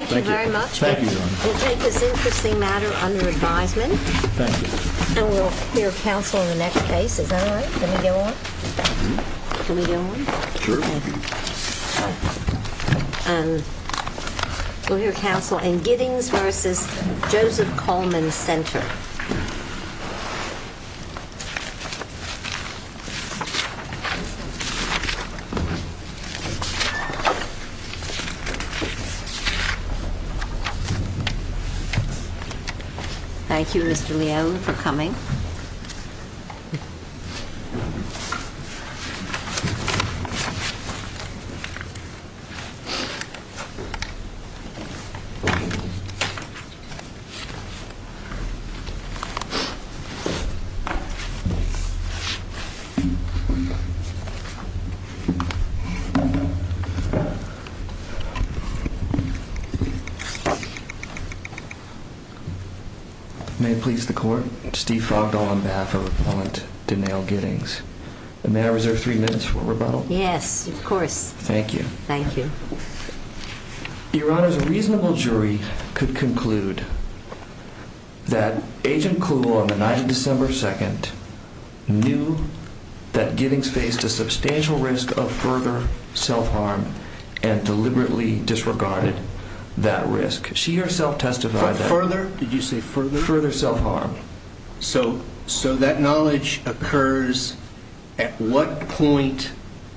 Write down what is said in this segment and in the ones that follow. Thank you very much, we'll take this interesting matter under advisement and we'll hear counsel in the next case, is that alright? Can we get one? We'll hear counsel in Giddings v. Joseph Coleman, Center. Thank you, Mr. Leal, for coming. May I reserve three minutes for rebuttal? Yes, of course. Thank you. Your Honor, a reasonable jury could conclude that Agent Cluel on the night of December 2nd knew that Giddings faced a substantial risk of further self-harm and deliberately disregarded that So that knowledge occurs at what point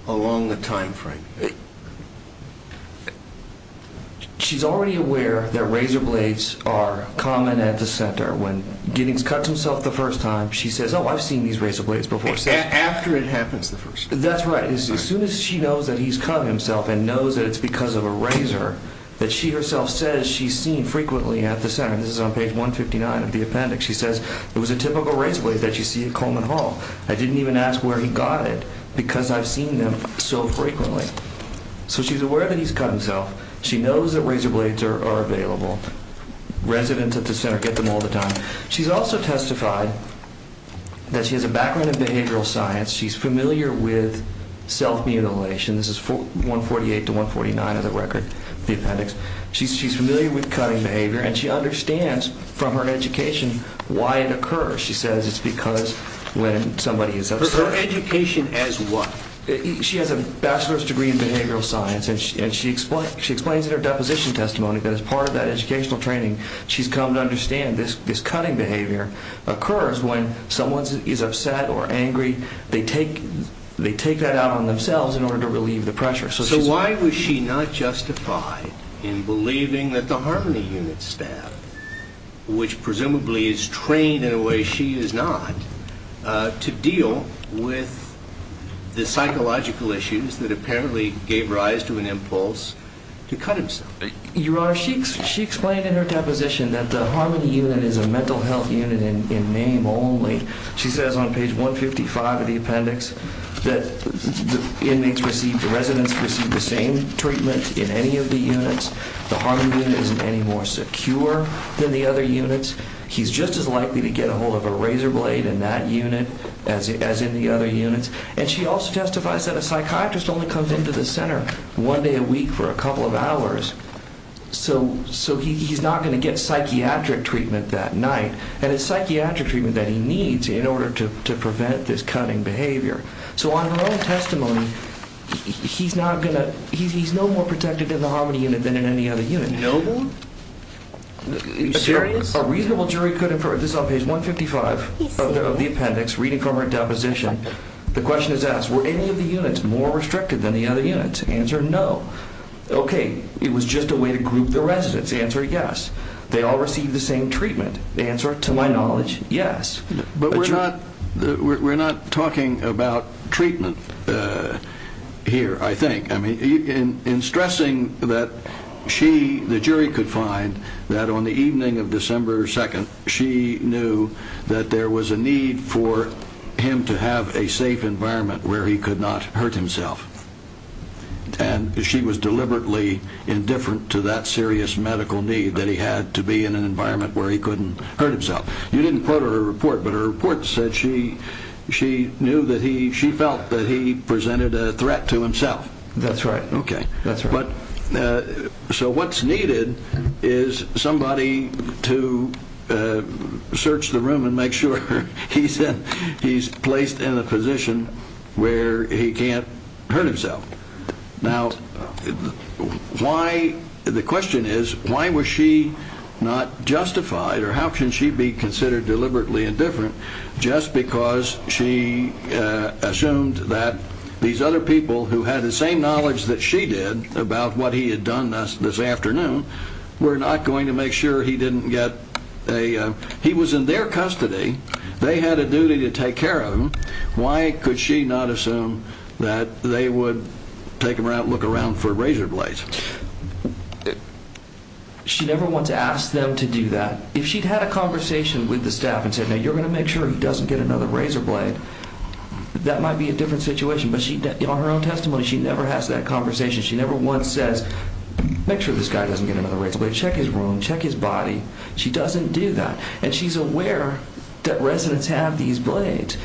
along the timeframe? She's already aware that razor blades are common at the Center. When Giddings cuts himself the first time, she says, oh, I've seen these razor blades before. After it happens the first time? That's right. As soon as she knows that he's cut himself and knows that it's because of a razor, that she herself says she's seen frequently at the Center. This is on page 159 of the appendix. She says it was a typical razor blade that you see at Coleman Hall. I didn't even ask where he got it because I've seen them so frequently. So she's aware that he's cut himself. She knows that razor blades are available. Residents at the Center get them all the time. She's also testified that she has a background in behavioral science. She's familiar with self-mutilation. This is 148 to 149 of the record, the appendix. She's familiar with cutting behavior and she says it's because when somebody is upset. Her education as what? She has a bachelor's degree in behavioral science and she explains in her deposition testimony that as part of that educational training she's come to understand this cutting behavior occurs when someone is upset or angry. They take that out on themselves in order to relieve the pressure. So why was she not justified in believing that the Harmony Unit staff, which presumably is trained in a way she is not, to deal with the psychological issues that apparently gave rise to an impulse to cut himself? Your Honor, she explained in her deposition that the Harmony Unit is a mental health unit in name only. She says on page 155 of the appendix that the inmates received, the residents received the same treatment in any of the units. The Harmony Unit isn't any more secure than the other units. He's just as likely to get a hold of a razor blade in that unit as in the other units. And she also testifies that a psychiatrist only comes into the center one day a week for a couple of hours. So he's not going to get psychiatric treatment that night. And it's psychiatric treatment that he needs in order to prevent this cutting behavior. So on her own testimony, he's no more protected in the Harmony Unit than in any other unit. Noble? A reasonable jury could infer this on page 155 of the appendix, reading from her deposition. The question is asked, were any of the units more restricted than the other units? Answer, no. Okay, it was just a way to group the residents. Answer, yes. They all received the same treatment. Answer, to my knowledge, yes. But we're not talking about treatment here, I think. I mean, in stressing that she, the jury could find that on the evening of December 2nd, she knew that there was a need for him to have a safe environment where he could not hurt himself. And she was deliberately indifferent to that serious medical need that he had to be in an environment where he couldn't hurt himself. You didn't quote her report, but her report said she knew that he, she felt that he presented a threat to himself. That's right. Okay. That's right. But, so what's needed is somebody to search the room and make sure he's placed in a position where he can't hurt himself. Now, why, the question is, why was she not justified, or how can she be considered deliberately indifferent just because she assumed that these other people who had the same knowledge that she did about what he had done this afternoon were not going to make sure he didn't get a, he was in their custody. They had a duty to take care of him. Why could she not assume that they would take him around, look around for razor blades? She never once asked them to do that. If she'd had a conversation with the staff and said, now, you're going to make sure he doesn't get another razor blade, that might be a different situation. But she, on her own testimony, she never has that conversation. She never once says, make sure this guy doesn't get another razor blade. Check his room, check his body. She doesn't do that. And she's aware that residents have these blades.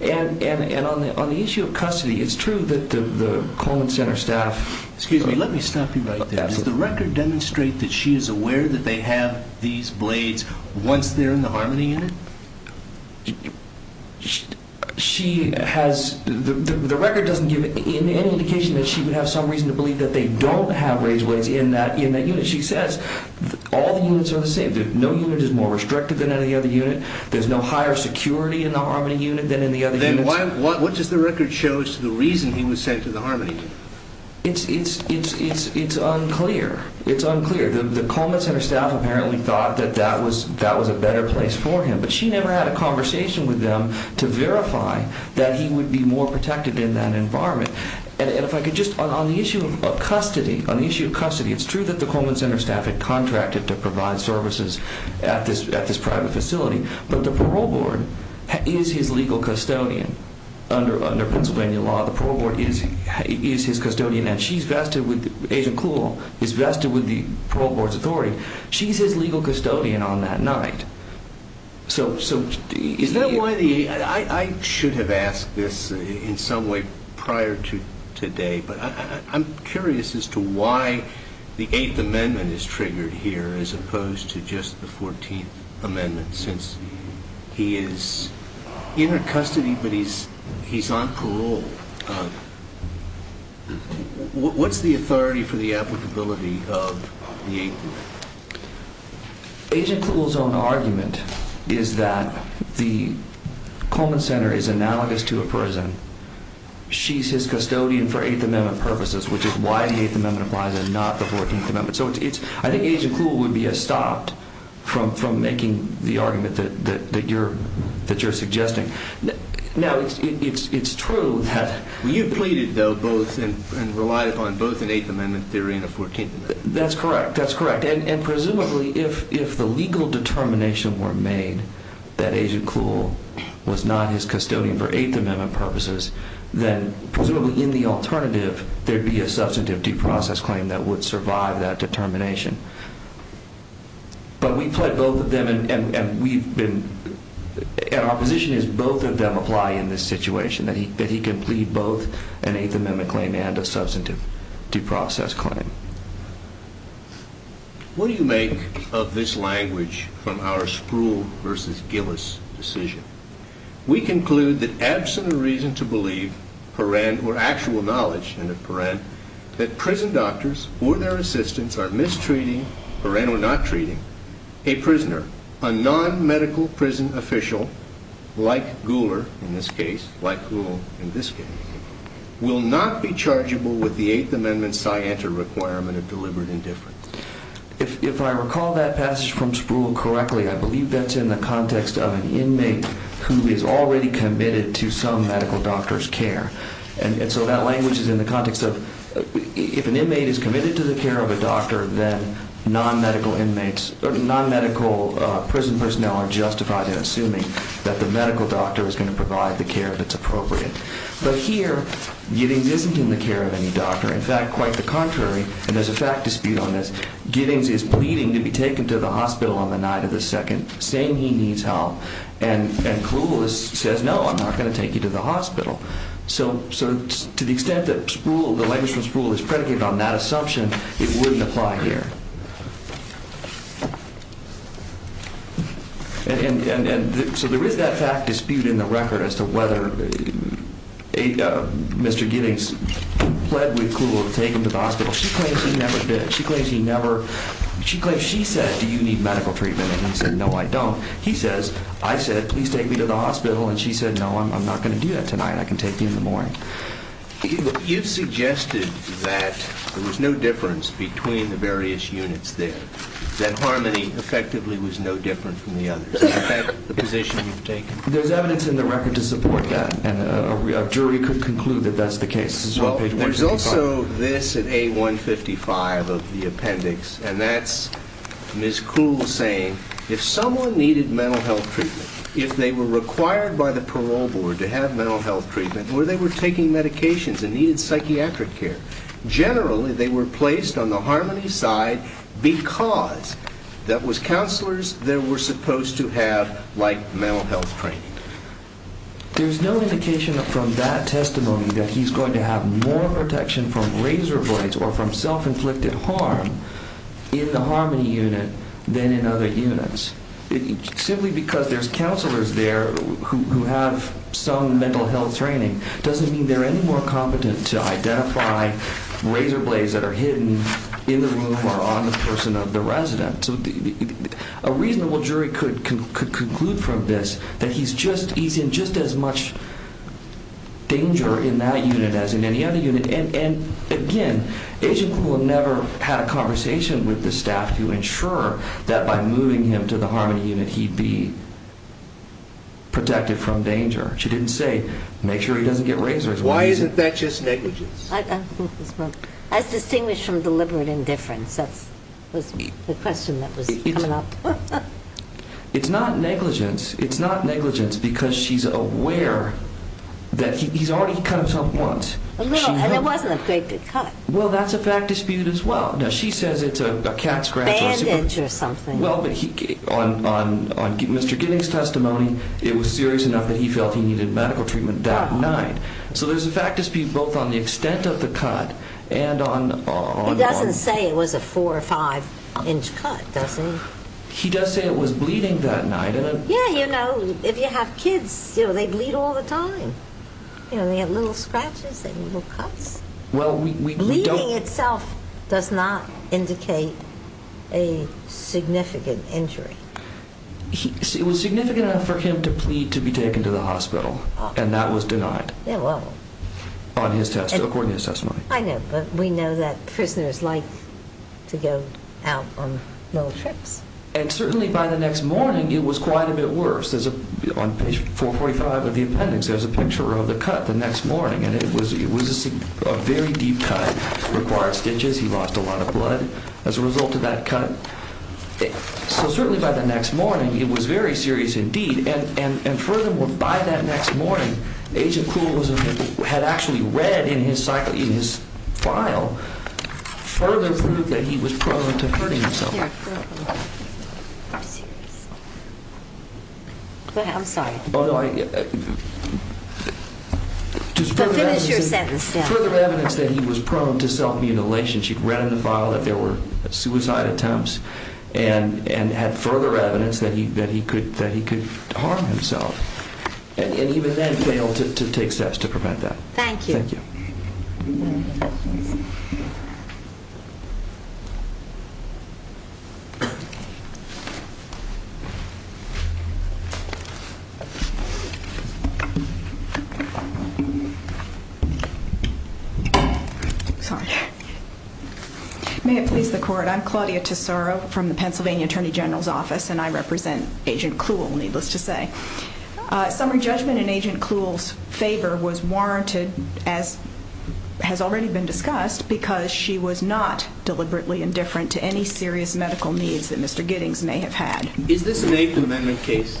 And on the issue of custody, it's true that the Coleman Center staff... Absolutely. Does the record demonstrate that she is aware that they have these blades once they're in the Harmony Unit? She has... The record doesn't give any indication that she would have some reason to believe that they don't have razor blades in that unit. She says, all the units are the same. No unit is more restrictive than any other unit. There's no higher security in the Harmony Unit than in the other units. What does the record show as to the reason he was sent to the Harmony Unit? It's unclear. It's unclear. The Coleman Center staff apparently thought that that was a better place for him. But she never had a conversation with them to verify that he would be more protected in that environment. And if I could just... On the issue of custody, it's true that the Coleman Center staff had contracted to provide services at this private facility. But the parole board is his legal custodian under Pennsylvania law. The parole board is his custodian, and she's vested with... Agent Cool is vested with the parole board's authority. She's his legal custodian on that night. So is that why the... I should have asked this in some way prior to today, but I'm curious as to why the Eighth Amendment is triggered here as opposed to just the Fourteenth Amendment since he is in her custody, but he's on parole. What's the authority for the applicability of the Eighth Amendment? Agent Cool's own argument is that the Coleman Center is analogous to a prison. She's his custodian for Eighth Amendment purposes, which is why the Eighth Amendment applies and not the Fourteenth Amendment. So I think Agent Cool would be stopped from making the argument that you're suggesting. Now, it's true that... You pleaded though both and relied upon both an Eighth Amendment theory and a Fourteenth Amendment. That's correct. That's correct. And presumably if the legal determination were made that Agent Cool was not his custodian for Eighth Amendment purposes, then presumably in the alternative there'd be a substantive due process claim that would survive that determination. But we pled both of them and we've been... And our position is both of them apply in this case with an Eighth Amendment claim and a substantive due process claim. What do you make of this language from our Spruill versus Gillis decision? We conclude that absent a reason to believe, paren, or actual knowledge, and a paren, that prison doctors or their assistants are mistreating, paren or not treating, a prisoner, a non-medical prison official, like Gouler in this case, like Cool in this case, will not be chargeable with the Eighth Amendment scienter requirement of deliberate indifference. If I recall that passage from Spruill correctly, I believe that's in the context of an inmate who is already committed to some medical doctor's care. And so that language is in the context of if an inmate is committed to the care of a doctor, then non-medical inmates or non-medical prison personnel are justified in assuming that the medical doctor is going to provide the care that's appropriate. But here, Gillis isn't in the care of any doctor. In fact, quite the contrary, and there's a fact dispute on this, Gillis is pleading to be taken to the hospital on the night of the second, saying he needs help. And Cool says, no, I'm not going to take you to the hospital. So to the extent that Spruill, the language from Spruill is predicated on that assumption, it wouldn't apply here. And so there is that fact dispute in the record as to whether Mr. Gillis pled with Cool to take him to the hospital. She claims he never did. She claims he never, she claims she said, do you need medical treatment? And he said, no, I don't. He says, I said, please take me to the hospital. And she said, no, I'm not going to do that tonight. I can take you in the morning. You've suggested that there was no difference between the various units there, that Harmony effectively was no different from the others. Is that the position you've taken? There's evidence in the record to support that. And a jury could conclude that that's the case. Well, there's also this at A155 of the appendix, and that's Ms. Cool saying, if someone needed mental health treatment, if they were required by the parole board to have mental health treatment, or they were taking medications and needed psychiatric care, generally they were placed on the Harmony side because that was counselors they were supposed to have like mental health training. There's no indication from that testimony that he's going to have more protection from razor blades or from self-inflicted harm in the Harmony unit than in other units. Simply because there's counselors there who have some mental health training doesn't mean they're any more competent to identify razor blades that are hidden in the room or on the person of the resident. So a reasonable jury could conclude from this that he's in just as much danger in that unit as in any other unit. And again, Agent Cool never had a conversation with the staff to be protected from danger. She didn't say, make sure he doesn't get razors. Why isn't that just negligence? As distinguished from deliberate indifference. That was the question that was coming up. It's not negligence. It's not negligence because she's aware that he's already cut himself once. And it wasn't a great big cut. Well, that's a fact dispute as well. Now, she says it's a cat scratch or a super cut. Bandage or something. Well, but on Mr. Gidding's testimony, it was serious enough that he felt he needed medical treatment that night. So there's a fact dispute both on the extent of the cut and on He doesn't say it was a four or five inch cut, does he? He does say it was bleeding that night. Yeah, you know, if you have kids, you know, they bleed all the time. You know, they have little scratches and little cuts. Well, we Bleeding itself does not indicate a significant injury. It was significant enough for him to plead to be taken to the hospital, and that was denied. Yeah, well On his testimony. I know, but we know that prisoners like to go out on little trips. And certainly by the next morning, it was quite a bit worse. On page 445 of the appendix, there's a picture of the cut the next morning, and it was a very deep cut. It required stitches. He lost a lot of blood as a result of that cut. So certainly by the next morning, it was very serious indeed. And furthermore, by that next morning, Agent Kruel had actually read in his file further proof that he was prone to hurting himself. Go ahead. I'm sorry. Oh, no, I But finish your sentence. Further evidence that he was prone to self-mutilation. She'd read in the file that there were suicide attempts and had further evidence that he could harm himself, and even then failed to take steps to prevent that. Thank you. Thank you. May it please the court. I'm Claudia Tesoro from the Pennsylvania Attorney General's Office, and I represent Agent Kruel, needless to say. Summary judgment in Agent Kruel's favor was warranted, as has already been discussed, because she was not deliberately indifferent to any serious medical needs that Mr. Giddings may have had. Is this an Eighth Amendment case?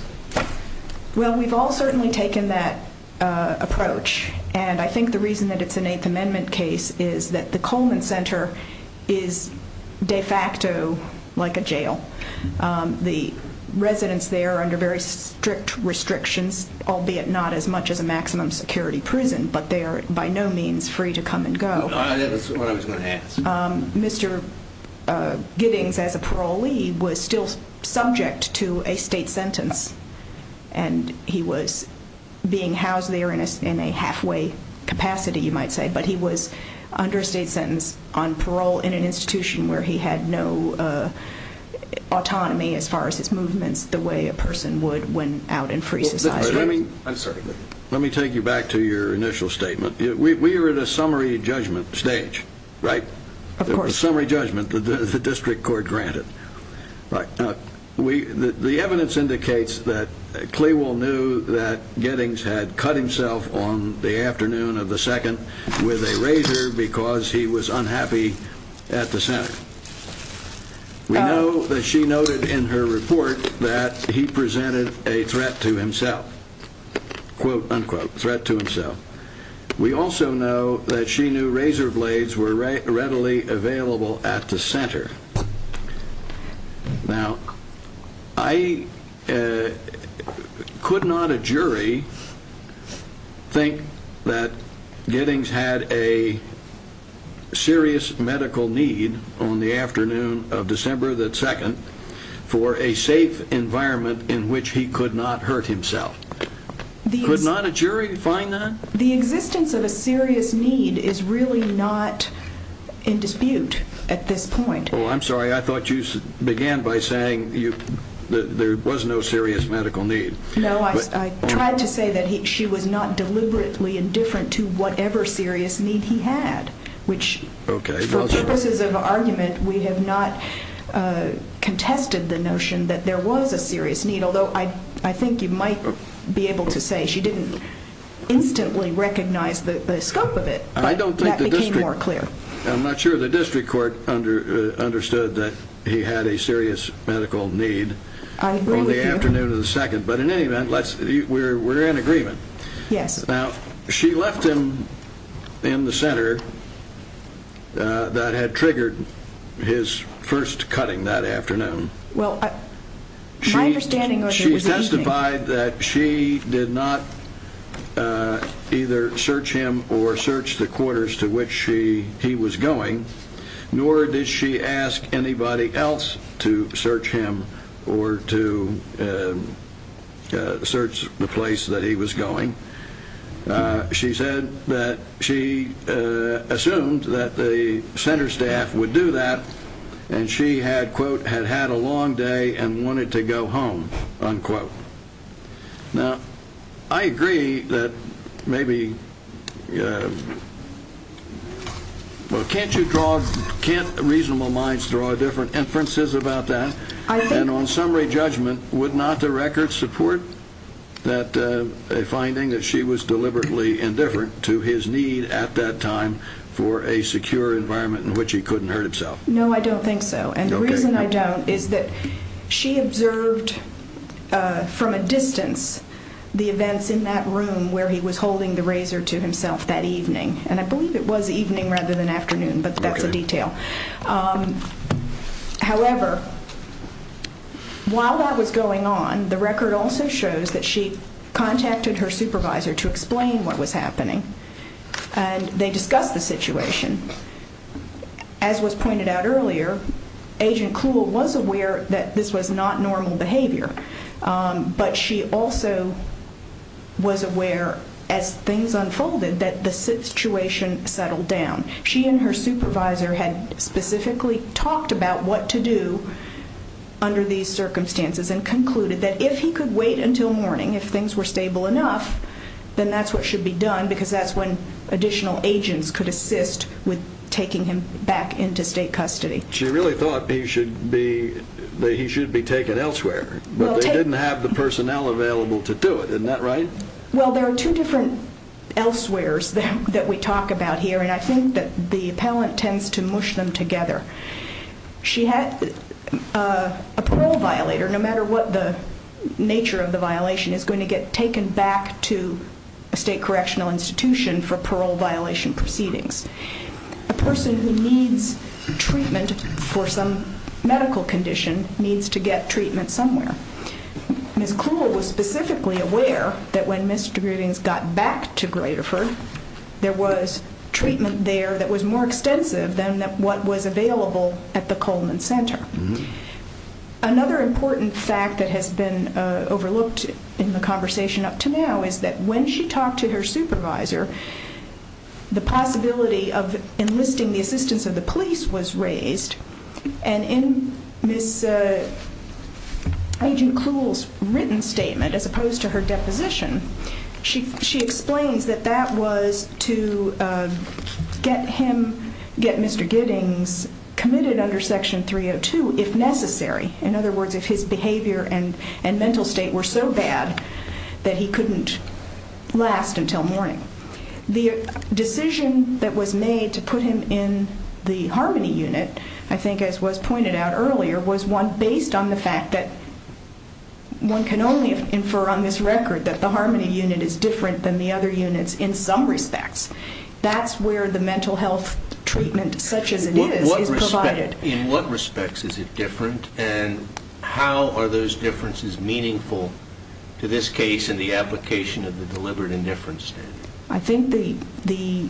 Well, we've all certainly taken that approach, and I think the reason that it's an Eighth Amendment case is that the Coleman Center is de facto like a jail. The residents there are under very strict restrictions, albeit not as much as a maximum security prison, but they are by no means free to come and go. That's what I was going to ask. Mr. Giddings, as a parolee, was still subject to a state sentence, and he was being housed there in a halfway capacity, you might say, but he was under a state sentence on parole in an institution where he had no autonomy as far as his movements, the way a person would when out in free society. Let me take you back to your initial statement. We are at a summary judgment stage, right? Of course. A summary judgment that the district court granted. The evidence indicates that Clewell knew that Giddings had cut himself on the afternoon of the 2nd with a razor because he was unhappy at the center. We know that she noted in her report that he presented a threat to himself, quote, unquote, threat to himself. We also know that she knew razor blades were readily available at the center. Now, I could not a jury think that Giddings had a serious medical need on the afternoon of December the 2nd for a safe environment in which he could not hurt himself. Could not a jury find that? The existence of a serious need is really not in dispute at this point. Oh, I'm sorry. I thought you began by saying that there was no serious medical need. No, I tried to say that she was not deliberately indifferent to whatever serious need he had, which for purposes of argument, we have not contested the notion that there was a serious need, although I think you might be able to say she didn't instantly recognize the scope of it, but that became more clear. I'm not sure the district court understood that he had a serious medical need on the afternoon of the 2nd, but in any event, we're in agreement. Yes. Now, she left him in the center that had triggered his first cutting that afternoon. Well, my understanding was that he was eating. She testified that she did not either search him or search the quarters to which he was going, nor did she ask anybody else to search him or to search the place that he was going. She said that she assumed that the center staff would do that, and she had, quote, had had a long day and wanted to go home, unquote. Now, I agree that maybe, well, can't you draw, can't reasonable minds draw different inferences about that, and on summary judgment, would not the record support that, a finding that she was deliberately indifferent to his need at that time for a secure environment in which he couldn't hurt himself? No, I don't think so, and the reason I don't is that she observed from a distance the events in that room where he was holding the razor to himself that evening, and I believe it was evening rather than afternoon, but that's a detail. Okay. However, while that was going on, the record also shows that she contacted her supervisor to explain what was happening, and they discussed the situation. As was pointed out earlier, Agent Kuhl was aware that this was not normal behavior, but she also was aware as things unfolded that the situation settled down. She and her supervisor had specifically talked about what to do under these circumstances and concluded that if he could wait until morning, if things were stable enough, then that's what should be done, because that's when additional agents could assist with taking him back into state custody. She really thought he should be taken elsewhere, but they didn't have the personnel available to do it. Isn't that right? Well, there are two different elsewheres that we talk about here, and I think that the appellant tends to mush them together. She had a parole violator, no matter what the nature of the violation, is going to get taken back to a state correctional institution for parole violation proceedings. A person who needs treatment for some medical condition needs to get treatment somewhere. Ms. Kuhl was specifically aware that when misdemeanors got back to Graterford, there was treatment there that was more extensive than what was available at the Coleman Center. Another important fact that has been overlooked in the conversation up to now is that when she talked to her supervisor, the possibility of enlisting the assistance of the police was raised, and in Ms. Agent Kuhl's written statement, as opposed to her deposition, she explains that that was to get Mr. Giddings committed under Section 302 if necessary. In other words, if his behavior and mental state were so bad that he couldn't last until morning. The decision that was made to put him in the Harmony Unit, I think as was pointed out earlier, was one based on the fact that one can only infer on this record that the Harmony Unit is different than the other units in some respects. That's where the mental health treatment, such as it is, is provided. In what respects is it different, and how are those differences meaningful to this case and the application of the Deliberate Indifference Standard? I think the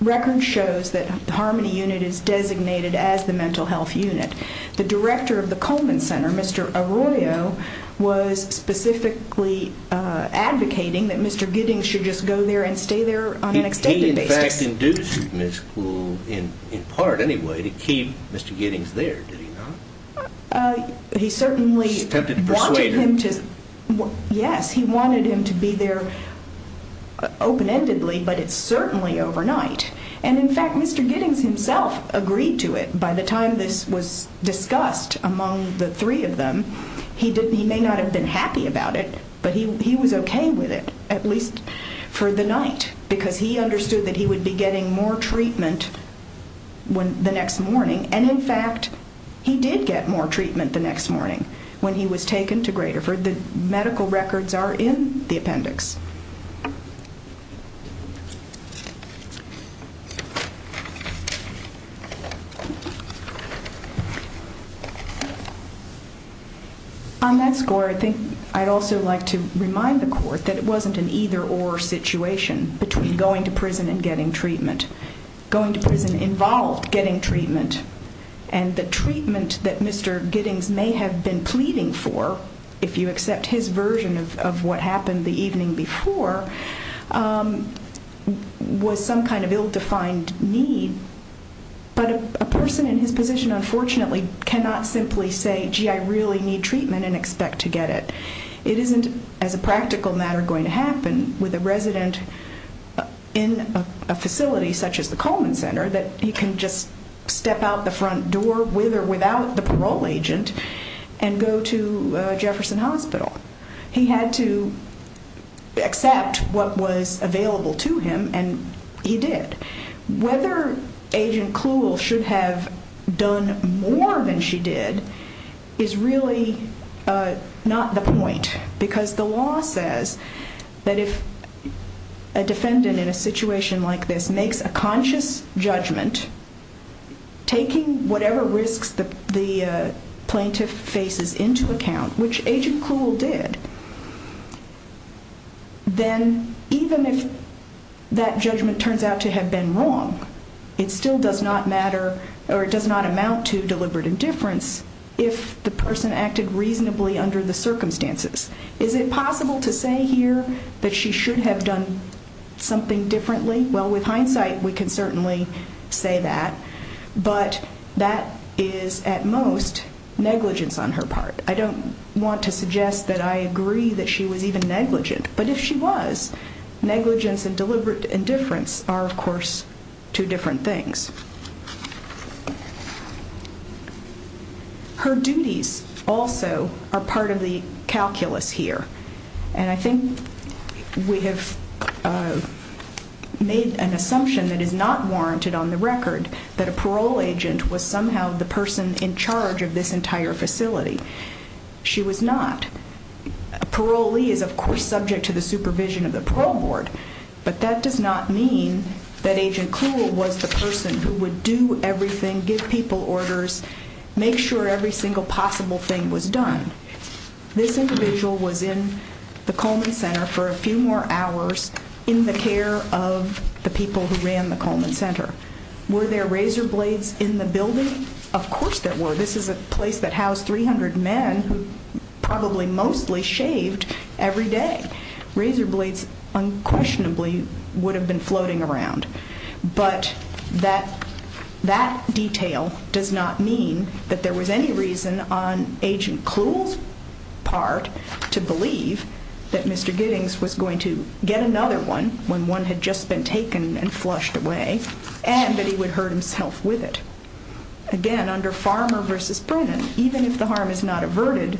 record shows that the Harmony Unit is designated as the mental health unit. The director of the Coleman Center, Mr. Arroyo, was specifically advocating that Mr. Giddings should just go there and stay there on an extended basis. He, in fact, induced Ms. Kuhl, in part anyway, to keep Mr. Giddings there, did he not? He certainly wanted him to be there open-endedly, but it's certainly overnight. In fact, Mr. Giddings himself agreed to it by the time this was discussed among the three of them. He may not have been happy about it, but he was okay with it, at least for the night, because he understood that he would be getting more treatment the next morning. In fact, he did get more treatment the next morning when he was taken to Graterford. The medical records are in the appendix. On that score, I think I'd also like to remind the Court that it wasn't an either-or situation between going to prison and getting treatment. Going to prison involved getting treatment, and the treatment that Mr. Giddings may have been pleading for, if you accept his version of what happened the evening before, was some kind of ill-treatment. But a person in his position, unfortunately, cannot simply say, gee, I really need treatment and expect to get it. It isn't, as a practical matter, going to happen with a resident in a facility such as the Coleman Center that he can just step out the front door, with or without the parole agent, and go to Jefferson Hospital. He had to accept what was available to him, and he did. Whether Agent Cluel should have done more than she did is really not the point, because the law says that if a defendant in a situation like this makes a conscious judgment, taking whatever risks the plaintiff faces into account, which Agent Cluel did, then even if that judgment turns out to have been wrong, it still does not amount to deliberate indifference if the person acted reasonably under the circumstances. Is it possible to say here that she should have done something differently? Well, with hindsight, we can certainly say that, but that is, at most, negligence on her part. I don't want to suggest that I agree that she was even negligent, but if she was, negligence and deliberate indifference are, of course, two different things. Her duties also are part of the calculus here, and I think we have made an assumption that is not warranted on the record that a parole agent was somehow the person in charge of this entire facility. She was not. A parolee is, of course, subject to the supervision of the parole board, but that does not mean that Agent Cluel was the person who would do everything, give people orders, make sure every single possible thing was done. This individual was in the Coleman Center for a few more hours in the care of the people who ran the Coleman Center. Were there razor blades in the building? Of course there were. This is a place that housed 300 men who probably mostly shaved every day. Razor blades unquestionably would have been floating around, but that detail does not mean that there was any reason on Agent Cluel's part to believe that Mr. Giddings was going to get another one when one had just been taken and flushed away, and that he would hurt himself with it. Again, under Farmer v. Brennan, even if the harm is not averted,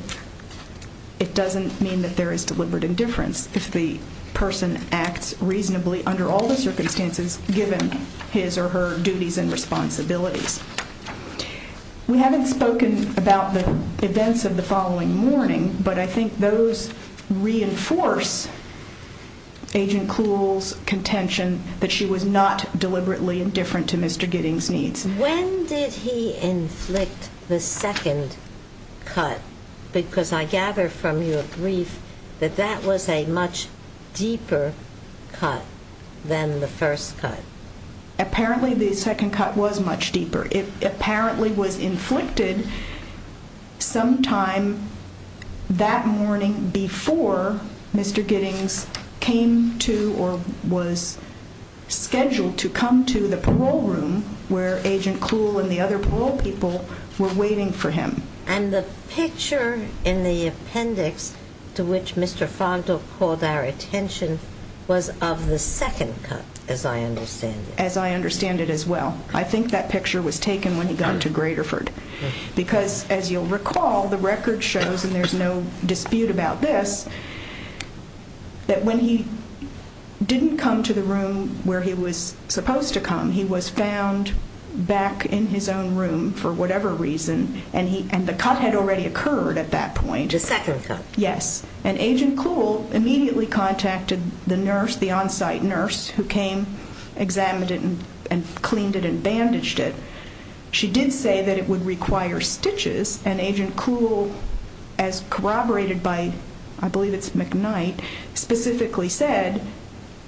it doesn't mean that there is deliberate indifference. If the person acts reasonably under all the circumstances given his or her duties and responsibilities. We haven't spoken about the events of the following morning, but I think those reinforce Agent Cluel's contention that she was not deliberately indifferent to Mr. Giddings' needs. When did he inflict the second cut? Because I gather from your brief that that was a much deeper cut than the first cut. Apparently the second cut was much deeper. It apparently was inflicted sometime that morning before Mr. Giddings came to or was scheduled to come to the parole room where Agent Cluel and the other parole people were waiting for him. And the picture in the appendix to which Mr. Fondle called our attention was of the second cut, as I understand it. As I understand it as well. I think that picture was taken when he got to Graterford. Because as you'll recall, the record shows, and there's no dispute about this, that when he didn't come to the room where he was supposed to come, he was found back in his own room for whatever reason, and the cut had already occurred at that point. The second cut. Yes. And Agent Cluel immediately contacted the on-site nurse who came, examined it, and cleaned it and bandaged it. She did say that it would require stitches, and Agent Cluel, as corroborated by, I believe it's McKnight, specifically said,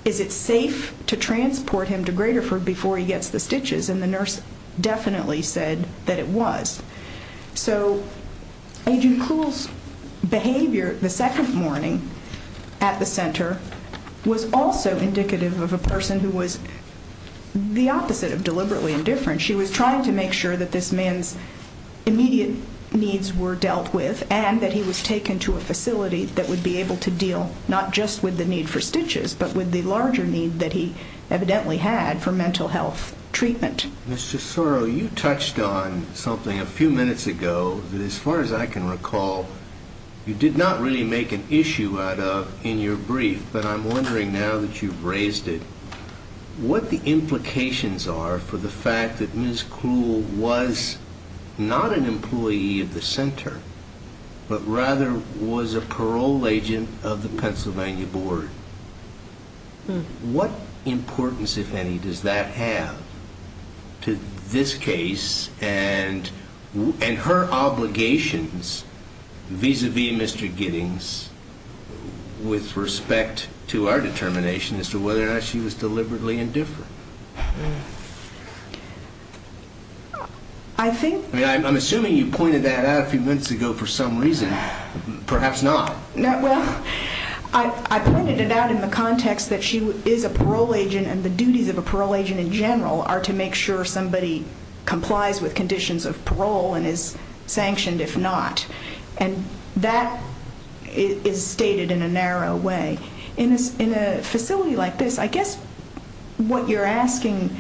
is it safe to transport him to Graterford before he gets the stitches? And the nurse definitely said that it was. So Agent Cluel's behavior the second morning at the center was also indicative of a person who was the opposite of deliberately indifferent. She was trying to make sure that this man's immediate needs were dealt with and that he was taken to a facility that would be able to deal not just with the need for stitches but with the larger need that he evidently had for mental health treatment. Mr. Sorrow, you touched on something a few minutes ago that, as far as I can recall, you did not really make an issue out of in your brief, but I'm wondering now that you've raised it, what the implications are for the fact that Ms. Cluel was not an employee of the center but rather was a parole agent of the Pennsylvania Board. What importance, if any, does that have to this case and her obligations vis-à-vis Mr. Giddings with respect to our determination as to whether or not she was deliberately indifferent? I'm assuming you pointed that out a few minutes ago for some reason. Perhaps not. Well, I pointed it out in the context that she is a parole agent and the duties of a parole agent in general are to make sure somebody complies with conditions of parole and is sanctioned if not, and that is stated in a narrow way. In a facility like this, I guess what you're asking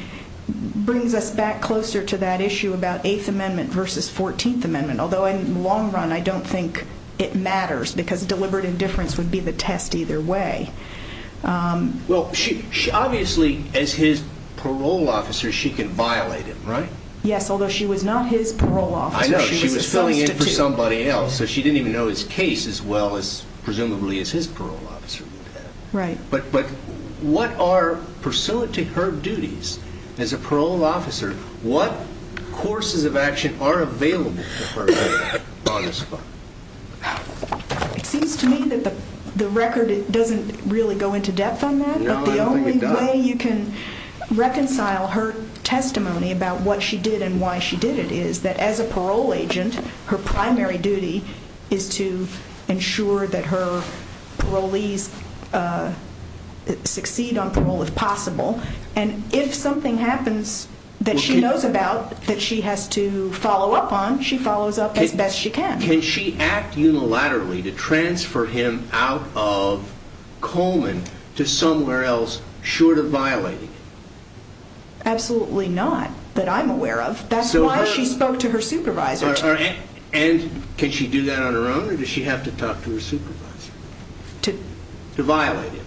brings us back closer to that issue about Eighth Amendment versus Fourteenth Amendment, although in the long run I don't think it matters because deliberate indifference would be the test either way. Well, obviously, as his parole officer, she can violate him, right? Yes, although she was not his parole officer. I know. She was filling in for somebody else, so she didn't even know his case as well, presumably, as his parole officer did. Right. But what are, pursuant to her duties as a parole officer, what courses of action are available to her on the spot? It seems to me that the record doesn't really go into depth on that. No, I don't think it does. But the only way you can reconcile her testimony about what she did and why she did it is that as a parole agent, her primary duty is to ensure that her parolees succeed on parole if possible, and if something happens that she knows about that she has to follow up on, she follows up as best she can. Can she act unilaterally to transfer him out of Coleman to somewhere else short of violating it? Absolutely not, that I'm aware of. That's why she spoke to her supervisor. And can she do that on her own, or does she have to talk to her supervisor? To violate him.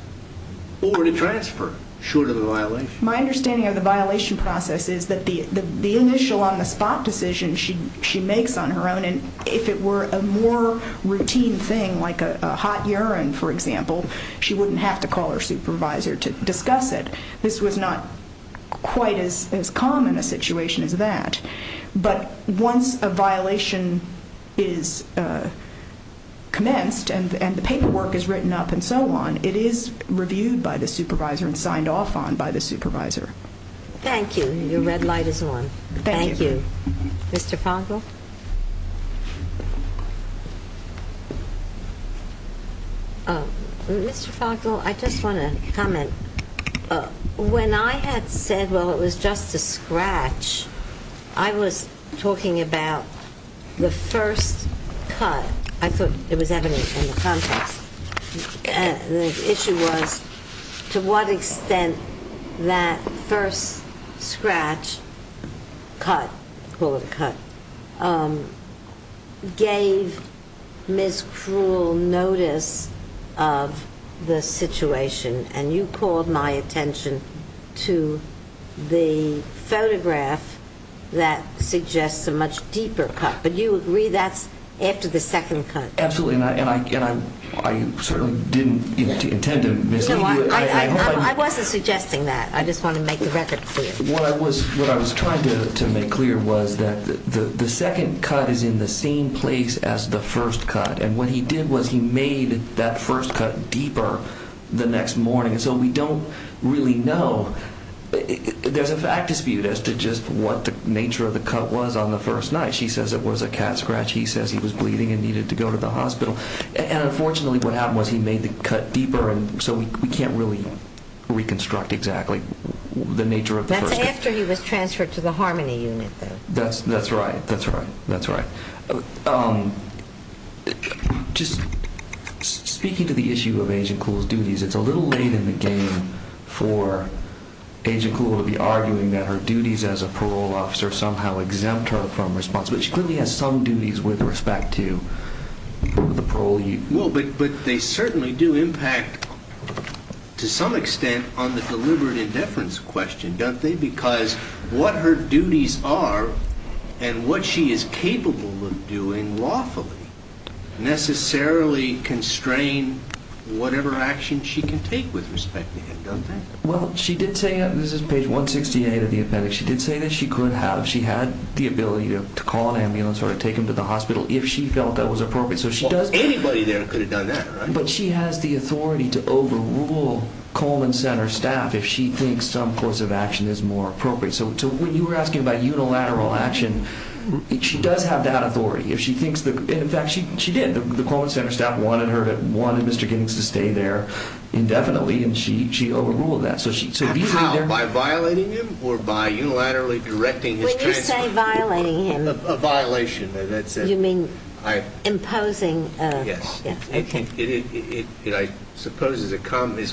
Or to transfer him, short of the violation. My understanding of the violation process is that the initial on-the-spot decision she makes on her own, and if it were a more routine thing like a hot urine, for example, she wouldn't have to call her supervisor to discuss it. This was not quite as common a situation as that. But once a violation is commenced and the paperwork is written up and so on, it is reviewed by the supervisor and signed off on by the supervisor. Thank you. Your red light is on. Thank you. Mr. Fogel? Mr. Fogel, I just want to comment. When I had said, well, it was just a scratch, I was talking about the first cut. I thought it was evident in the context. The issue was to what extent that first scratch cut, call it a cut, gave Ms. Krull notice of the situation. And you called my attention to the photograph that suggests a much deeper cut. But do you agree that's after the second cut? Absolutely. And I certainly didn't intend to mislead you. I wasn't suggesting that. I just wanted to make the record clear. What I was trying to make clear was that the second cut is in the same place as the first cut. And what he did was he made that first cut deeper the next morning. So we don't really know. There's a fact dispute as to just what the nature of the cut was on the first night. She says it was a cat scratch. He says he was bleeding and needed to go to the hospital. And unfortunately what happened was he made the cut deeper, and so we can't really reconstruct exactly the nature of the first cut. That's after he was transferred to the Harmony Unit, though. That's right. That's right. That's right. Just speaking to the issue of Agent Krull's duties, it's a little late in the game for Agent Krull to be arguing that her duties as a parole officer somehow exempt her from responsibility. But she clearly has some duties with respect to the parole unit. Well, but they certainly do impact to some extent on the deliberate indifference question, don't they? Because what her duties are and what she is capable of doing lawfully necessarily constrain whatever action she can take with respect to him, don't they? Well, she did say that. This is page 168 of the appendix. She did say that she could have. She had the ability to call an ambulance or take him to the hospital if she felt that was appropriate. Anybody there could have done that, right? But she has the authority to overrule Coleman Center staff if she thinks some course of action is more appropriate. So when you were asking about unilateral action, she does have that authority. In fact, she did. The Coleman Center staff wanted Mr. Giddings to stay there indefinitely, and she overruled that. By violating him or by unilaterally directing his transfer? When you say violating him. A violation. You mean imposing? Yes. Okay. I suppose it's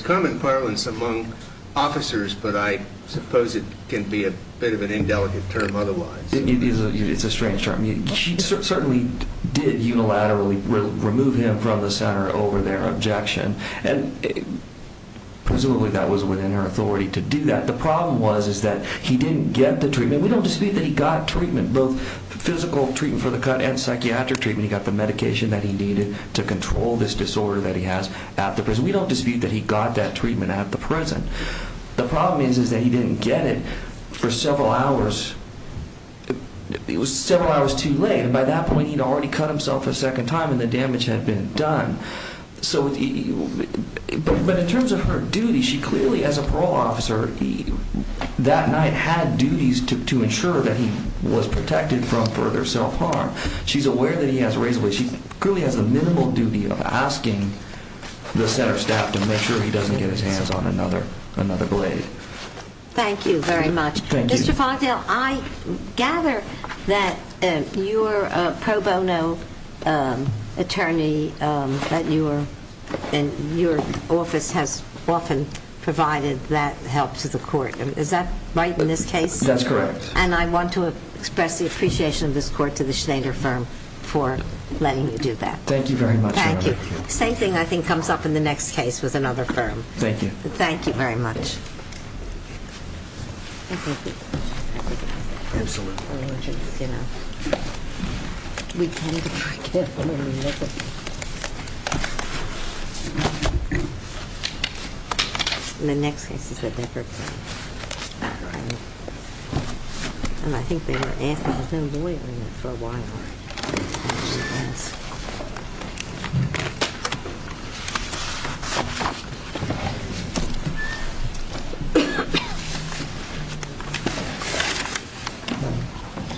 common parlance among officers, but I suppose it can be a bit of an indelicate term otherwise. It's a strange term. She certainly did unilaterally remove him from the center over their objection. Presumably that was within her authority to do that. The problem was that he didn't get the treatment. We don't dispute that he got treatment, both physical treatment for the cut and psychiatric treatment. He got the medication that he needed to control this disorder that he has at the prison. We don't dispute that he got that treatment at the prison. The problem is that he didn't get it for several hours. It was several hours too late, and by that point he had already cut himself a second time and the damage had been done. But in terms of her duty, she clearly as a parole officer that night had duties to ensure that he was protected from further self-harm. She's aware that he has a razor blade. She clearly has the minimal duty of asking the center staff to make sure he doesn't get his hands on another blade. Thank you very much. Mr. Fogdale, I gather that you're a pro bono attorney and your office has often provided that help to the court. Is that right in this case? That's correct. And I want to express the appreciation of this court to the Schneider firm for letting you do that. Thank you very much. Thank you. Same thing I think comes up in the next case with another firm. Thank you. Thank you very much. Absolutely. You know, we tend to be very careful. The next case is with Evergreen. That's right. And I think they were asking for a lawyer for a while. Yes. Thank you.